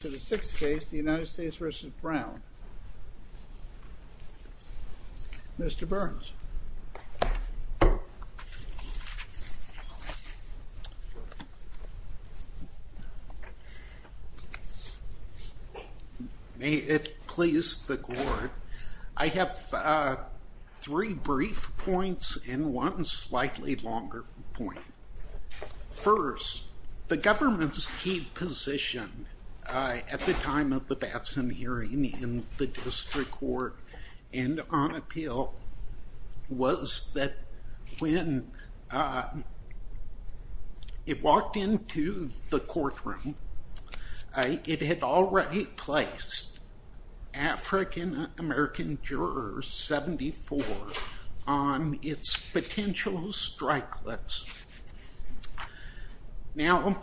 To the sixth case, the United States v. Brown, Mr. Burns. May it please the court, I have three brief points and one slightly longer point. First, the government's key position at the time of the Batson hearing in the district court and on appeal was that when it walked into the courtroom, it had already placed African American jurors 74 on its potential strike list. Now,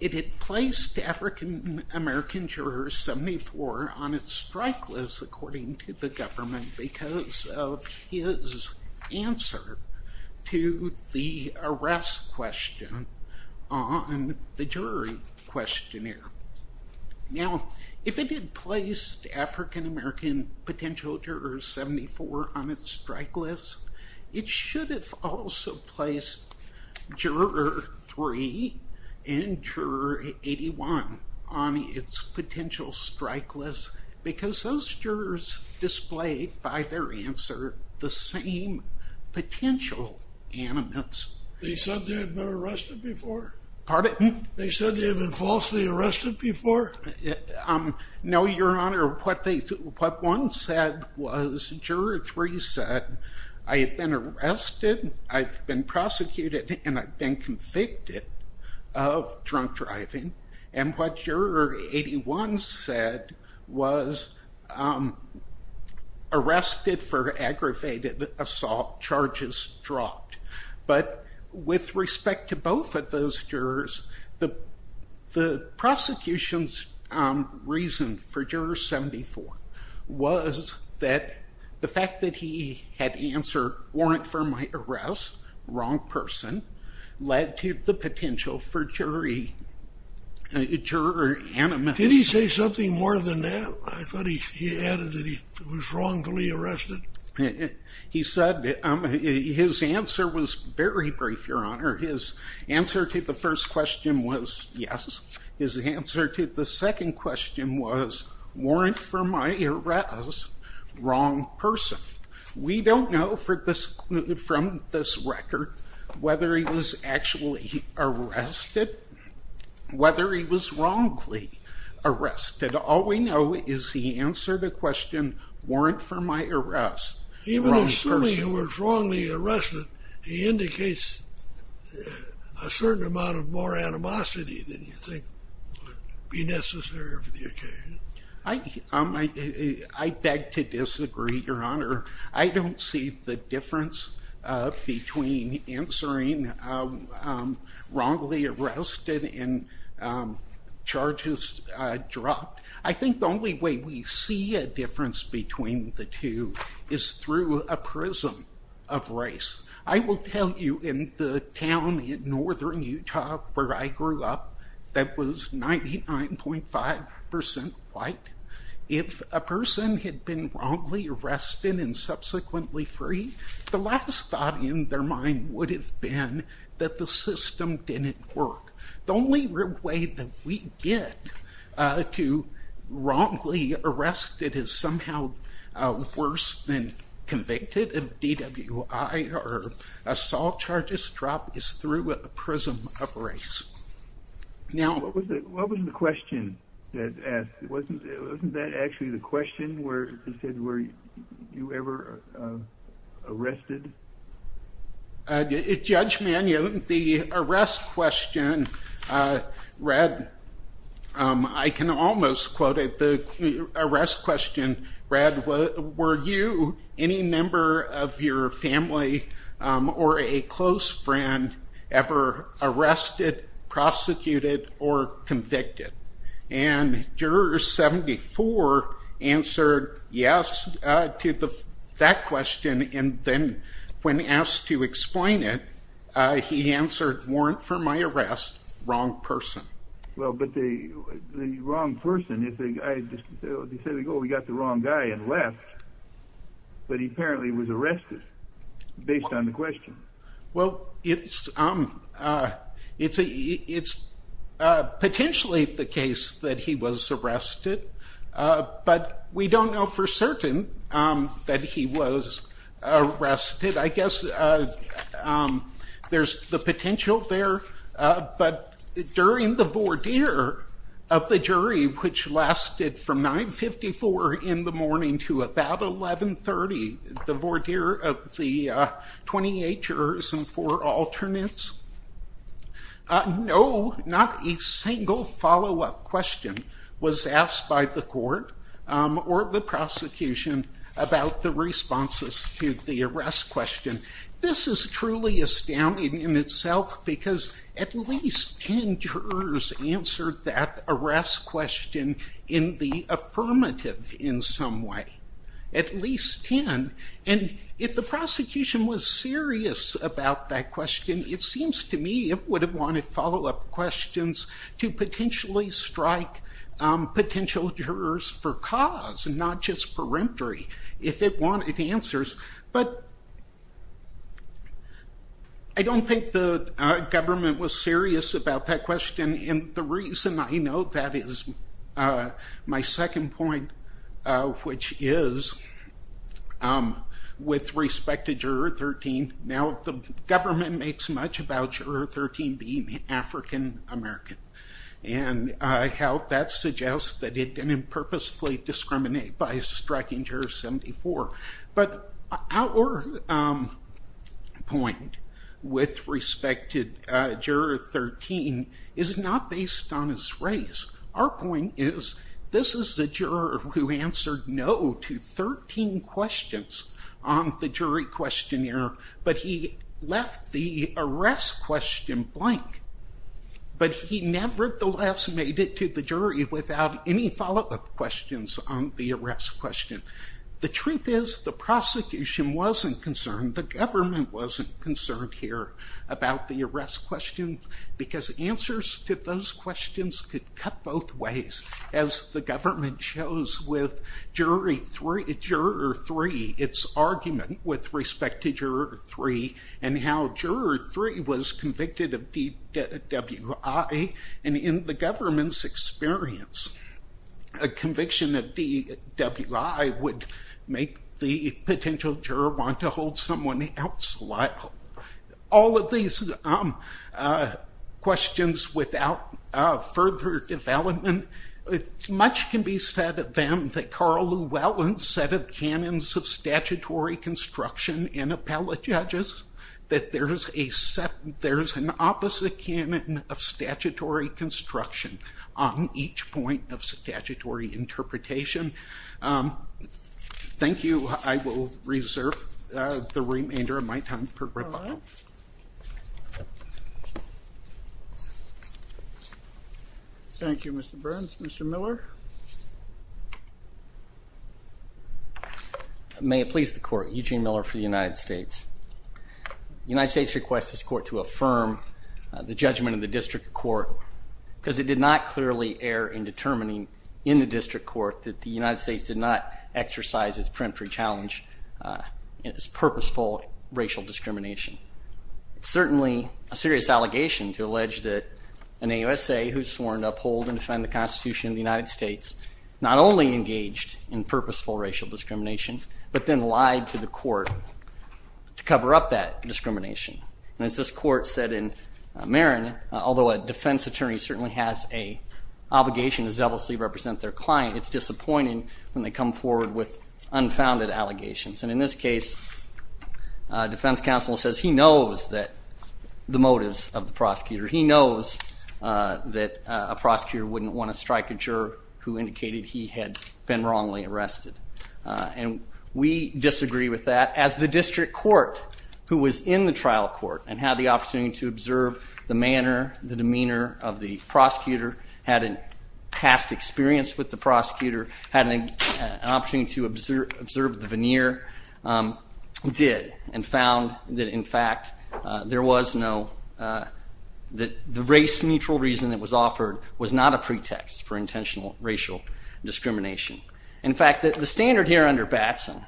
it had placed African American jurors 74 on its strike list according to the government because of his answer to the arrest question on the jury questionnaire. Now, if it had placed African American potential jurors 74 on its strike list, it should have also placed juror 3 and juror 81 on its potential strike list because those jurors displayed by their answer the same potential animus. They said they had been falsely arrested before? No, Your Honor. What one said was juror 3 said, I have been arrested, I've been prosecuted, and I've been convicted of drunk driving. And what juror 81 said was, arrested for aggravated assault, charges dropped. But with respect to both of those jurors, the prosecution's reason for juror 74 was that the fact that he had answered warrant for my arrest, wrong person, led to the potential for jury animus. Did he say something more than that? I thought he added that he was wrongfully arrested. He said, his answer was very brief, Your Honor. His answer to the first question was yes. His answer to the second question was, warrant for my arrest, wrong person. We don't know from this record whether he was actually arrested, whether he was wrongly arrested. All we know is he answered the question, warrant for my arrest, wrong person. Even assuming he was wrongly arrested, he indicates a certain amount of more animosity than you think would be necessary for the occasion. I beg to disagree, Your Honor. I don't see the difference between answering wrongly arrested and charges dropped. I think the only way we see a difference between the two is through a prism of race. I will tell you, in the town in northern Utah where I grew up that was 99.5% white, if a person had been wrongly arrested and subsequently freed, the last thought in their mind would have been that the system didn't work. The only way that we get to wrongly arrest is somehow worse than convicted of DWI or assault charges dropped is through a prism of race. What was the question that asked? Wasn't that actually the question where it said, were you ever arrested? Judge Mann, the arrest question read, I can almost quote it, the arrest question read, were you, any member of your family, or a close friend ever arrested, prosecuted, or convicted? And juror 74 answered yes to that question, and then when asked to explain it, he answered, warrant for my arrest, wrong person. Well, but the wrong person, they said, oh, we got the wrong guy and left, but he apparently was arrested based on the question. Well, it's potentially the case that he was arrested, but we don't know for certain that he was arrested. I guess there's the potential there, but during the voir dire of the jury, which lasted from 9.54 in the morning to about 11.30, the voir dire of the 28 jurors and four alternates, no, not a single follow-up question was asked by the court or the prosecution about the responses to the arrest question. This is truly astounding in itself, because at least 10 jurors answered that arrest question in the affirmative in some way. At least 10, and if the prosecution was serious about that question, it seems to me it would have wanted follow-up questions to potentially strike potential jurors for cause, and not just peremptory. If it wanted answers, but I don't think the government was serious about that question, and the reason I note that is my second point, which is, with respect to juror 13, now the government makes much about juror 13 being African American, and how that suggests that it didn't purposefully discriminate by striking juror 74. But our point with respect to juror 13 is not based on his race. Our point is, this is the juror who answered no to 13 questions on the jury questionnaire, but he left the arrest question blank. But he nevertheless made it to the jury without any follow-up questions on the arrest question. The truth is, the prosecution wasn't concerned, the government wasn't concerned here about the arrest question, because answers to those questions could cut both ways, as the government shows with juror 3, its argument with respect to juror 3, and how juror 3 was convicted of DWI, and in the government's experience, a conviction of DWI would make the potential juror want to hold someone else liable. All of these questions, without further development, much can be said of them that Carl Llewellyn said of canons of statutory construction in appellate judges, that there's an opposite canon of statutory construction on each point of statutory interpretation. Thank you. I will reserve the remainder of my time for rebuttal. Thank you, Mr. Burns. Mr. Miller? May it please the court, Eugene Miller for the United States. The United States requests this court to affirm the judgment of the district court, because it did not clearly err in determining in the district court that the United States did not exercise its peremptory challenge in its purposeful racial discrimination. It's certainly a serious allegation to allege that an AUSA who's sworn to uphold and defend the Constitution of the United States not only engaged in purposeful racial discrimination, but then lied to the court to cover up that discrimination. And as this court said in Marin, although a defense attorney certainly has an obligation to zealously represent their client, it's disappointing when they come forward with unfounded allegations. And in this case, defense counsel says he knows the motives of the prosecutor. He knows that a prosecutor wouldn't want to strike a juror who indicated he had been wrongly arrested. And we disagree with that, as the district court, who was in the trial court and had the opportunity to observe the manner, the demeanor of the prosecutor, had a past experience with the prosecutor, had an opportunity to observe the veneer, did. And found that, in fact, there was no – that the race-neutral reason that was offered was not a pretext for intentional racial discrimination. In fact, the standard here under Batson,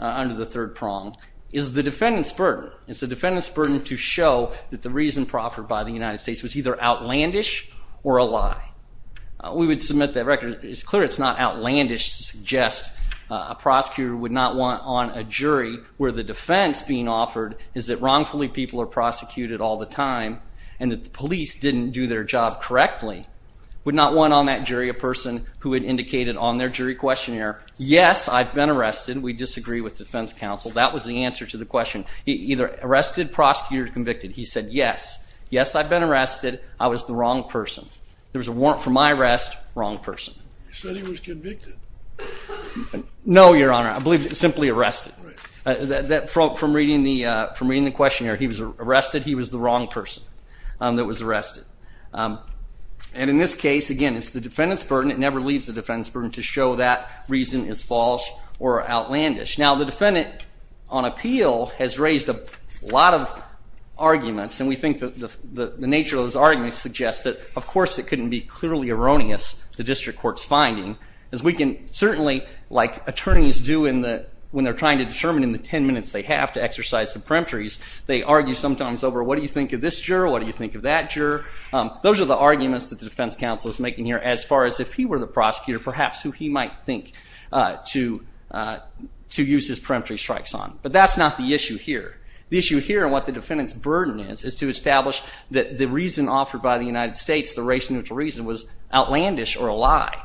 under the third prong, is the defendant's burden. It's the defendant's burden to show that the reason proffered by the United States was either outlandish or a lie. We would submit that record. It's clear it's not outlandish to suggest a prosecutor would not want on a jury where the defense being offered is that wrongfully people are prosecuted all the time, and that the police didn't do their job correctly, would not want on that jury a person who had indicated on their jury questionnaire, yes, I've been arrested. We disagree with defense counsel. That was the answer to the question. Either arrested, prosecuted, or convicted. He said, yes. Yes, I've been arrested. I was the wrong person. There was a warrant for my arrest. Wrong person. You said he was convicted. No, Your Honor. I believe simply arrested. From reading the questionnaire, he was arrested. He was the wrong person that was arrested. And in this case, again, it's the defendant's burden. It never leaves the defendant's burden to show that reason is false or outlandish. Now, the defendant on appeal has raised a lot of arguments, and we think the nature of those arguments suggests that, of course, it couldn't be clearly erroneous, the district court's finding, as we can certainly, like attorneys do when they're trying to determine in the 10 minutes they have to exercise the peremptories, they argue sometimes over what do you think of this juror, what do you think of that juror. Those are the arguments that the defense counsel is making here as far as if he were the prosecutor, perhaps who he might think to use his peremptory strikes on. But that's not the issue here. The issue here and what the defendant's burden is is to establish that the reason offered by the United States, the race neutral reason, was outlandish or a lie.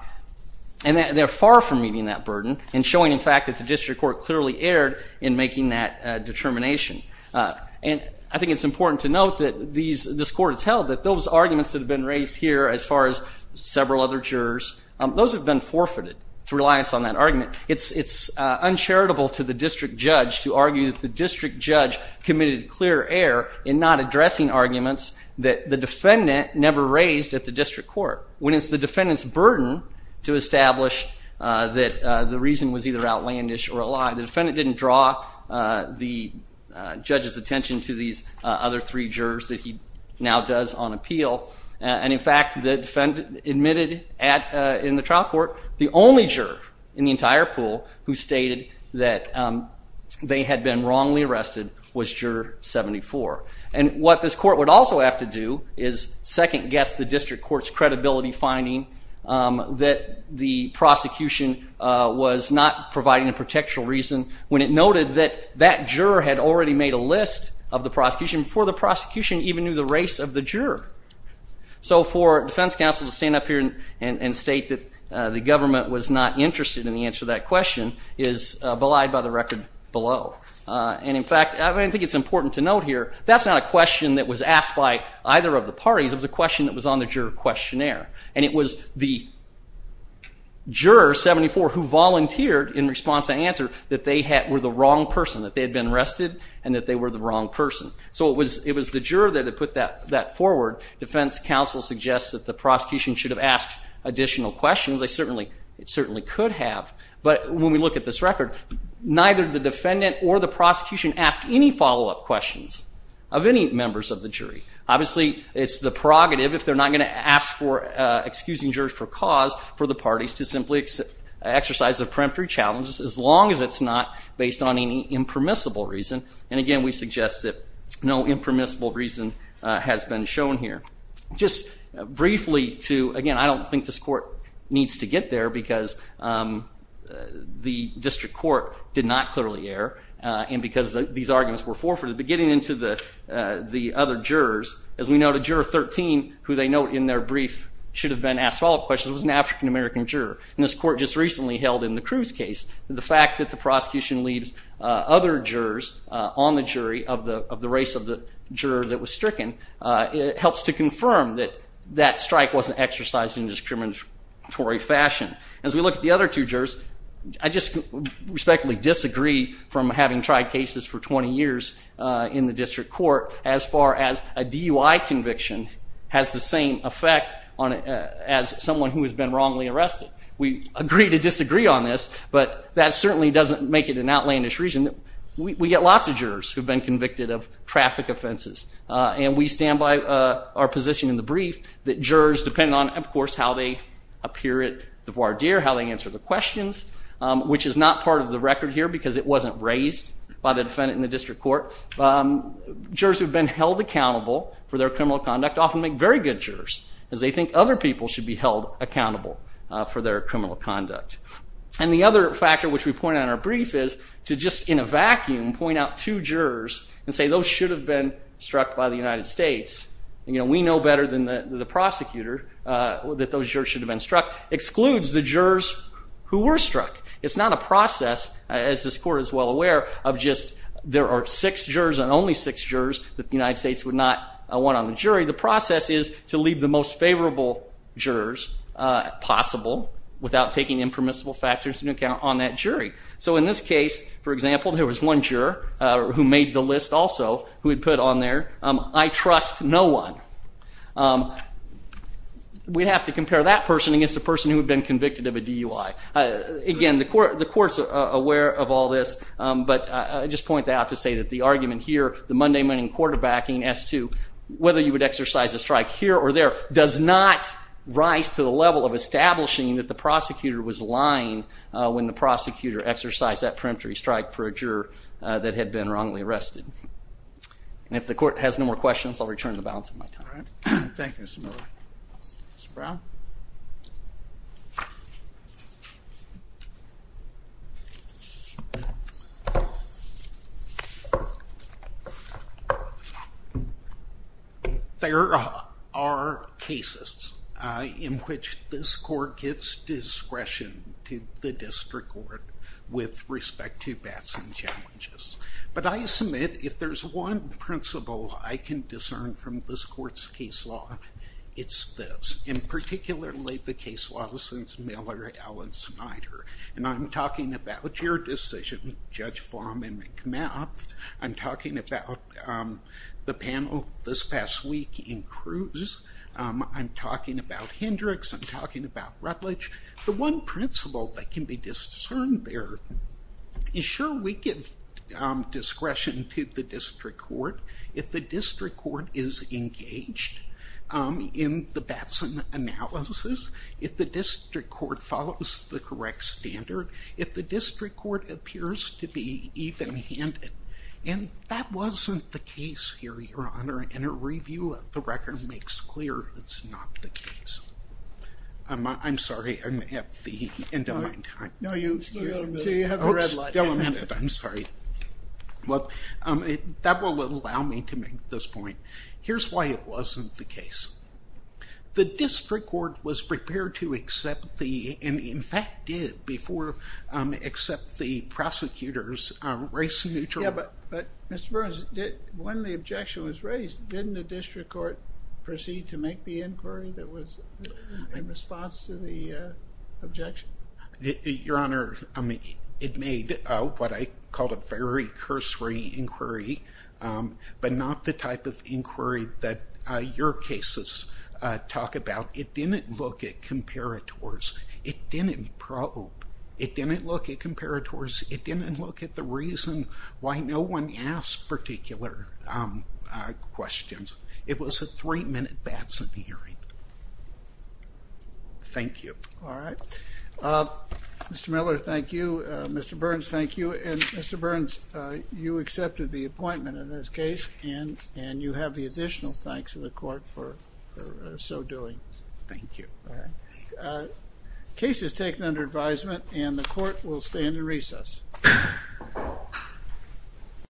And they're far from meeting that burden and showing, in fact, that the district court clearly erred in making that determination. And I think it's important to note that this court has held that those arguments that have been raised here as far as several other jurors, those have been forfeited to reliance on that argument. It's uncharitable to the district judge to argue that the district judge committed clear error in not addressing arguments that the defendant never raised at the district court. When it's the defendant's burden to establish that the reason was either outlandish or a lie, the defendant didn't draw the judge's attention to these other three jurors that he now does on appeal. And in fact, the defendant admitted in the trial court the only juror in the entire pool who stated that they had been wrongly arrested was Juror 74. And what this court would also have to do is second guess the district court's credibility finding that the prosecution was not providing a protection reason when it noted that that juror had already made a list of the prosecution before the prosecution even knew the race of the juror. So for defense counsel to stand up here and state that the government was not interested in the answer to that question is belied by the record below. And in fact, I think it's important to note here, that's not a question that was asked by either of the parties. It was a question that was on the juror questionnaire. And it was the juror 74 who volunteered in response to the answer that they were the wrong person, that they had been arrested, and that they were the wrong person. So it was the juror that had put that forward. Defense counsel suggests that the prosecution should have asked additional questions. They certainly could have. But when we look at this record, neither the defendant or the prosecution asked any follow-up questions of any members of the jury. Obviously, it's the prerogative, if they're not going to ask for excusing jurors for cause, for the parties to simply exercise a preemptory challenge, as long as it's not based on any impermissible reason. And again, we suggest that no impermissible reason has been shown here. Just briefly to, again, I don't think this court needs to get there because the district court did not clearly err, and because these arguments were forfeited. But getting into the other jurors, as we noted, juror 13, who they note in their brief should have been asked follow-up questions, was an African-American juror. And this court just recently held in the Cruz case that the fact that the prosecution leaves other jurors on the jury of the race of the juror that was stricken, it helps to confirm that that strike wasn't exercised in a discriminatory fashion. As we look at the other two jurors, I just respectfully disagree from having tried cases for 20 years in the district court, as far as a DUI conviction has the same effect as someone who has been wrongly arrested. We agree to disagree on this, but that certainly doesn't make it an outlandish reason. We get lots of jurors who have been convicted of traffic offenses. And we stand by our position in the brief that jurors, depending on, of course, how they appear at the voir dire, how they answer the questions, which is not part of the record here because it wasn't raised by the defendant in the district court, jurors who have been held accountable for their criminal conduct often make very good jurors, as they think other people should be held accountable for their criminal conduct. And the other factor which we point out in our brief is to just, in a vacuum, point out two jurors and say those should have been struck by the United States. You know, we know better than the prosecutor that those jurors should have been struck, excludes the jurors who were struck. It's not a process, as this court is well aware, of just there are six jurors and only six jurors that the United States would not want on the jury. The process is to leave the most favorable jurors possible without taking impermissible factors into account on that jury. So in this case, for example, there was one juror who made the list also who had put on there, I trust no one. We'd have to compare that person against a person who had been convicted of a DUI. Again, the court's aware of all this, but I just point that out to say that the argument here, the mundane, mundane quarterbacking as to whether you would exercise a strike here or there, does not rise to the level of establishing that the prosecutor was lying when the prosecutor exercised that preemptory strike for a juror that had been wrongly arrested. And if the court has no more questions, I'll return to the balance of my time. Thank you, Mr. Miller. Mr. Brown? There are cases in which this court gives discretion to the district court with respect to bats and challenges. But I submit if there's one principle I can discern from this court's case law, it's this. And particularly the case law since Miller, Allen, Snyder. And I'm talking about your decision, Judge Flom and McMaft. I'm talking about the panel this past week in Cruz. I'm talking about Hendricks. I'm talking about Rutledge. The one principle that can be discerned there is, sure, we give discretion to the district court. If the district court is engaged in the Batson analysis, if the district court follows the correct standard, if the district court appears to be even-handed. And that wasn't the case here, Your Honor. And a review of the record makes clear it's not the case. I'm sorry, I'm at the end of my time. No, you've still got a minute. Oops, still a minute. I'm sorry. Look, that will allow me to make this point. Here's why it wasn't the case. The district court was prepared to accept the, and in fact did before, accept the prosecutor's race neutrality. Yeah, but Mr. Burns, when the objection was raised, didn't the district court proceed to make the inquiry that was in response to the objection? Your Honor, it made what I call a very cursory inquiry, but not the type of inquiry that your cases talk about. It didn't look at comparators. It didn't probe. It didn't look at comparators. It didn't look at the reason why no one asked particular questions. It was a three-minute Batson hearing. Thank you. All right. Mr. Miller, thank you. Mr. Burns, thank you. And Mr. Burns, you accepted the appointment in this case, and you have the additional thanks of the court for so doing. Thank you. All right. Case is taken under advisement, and the court will stand in recess.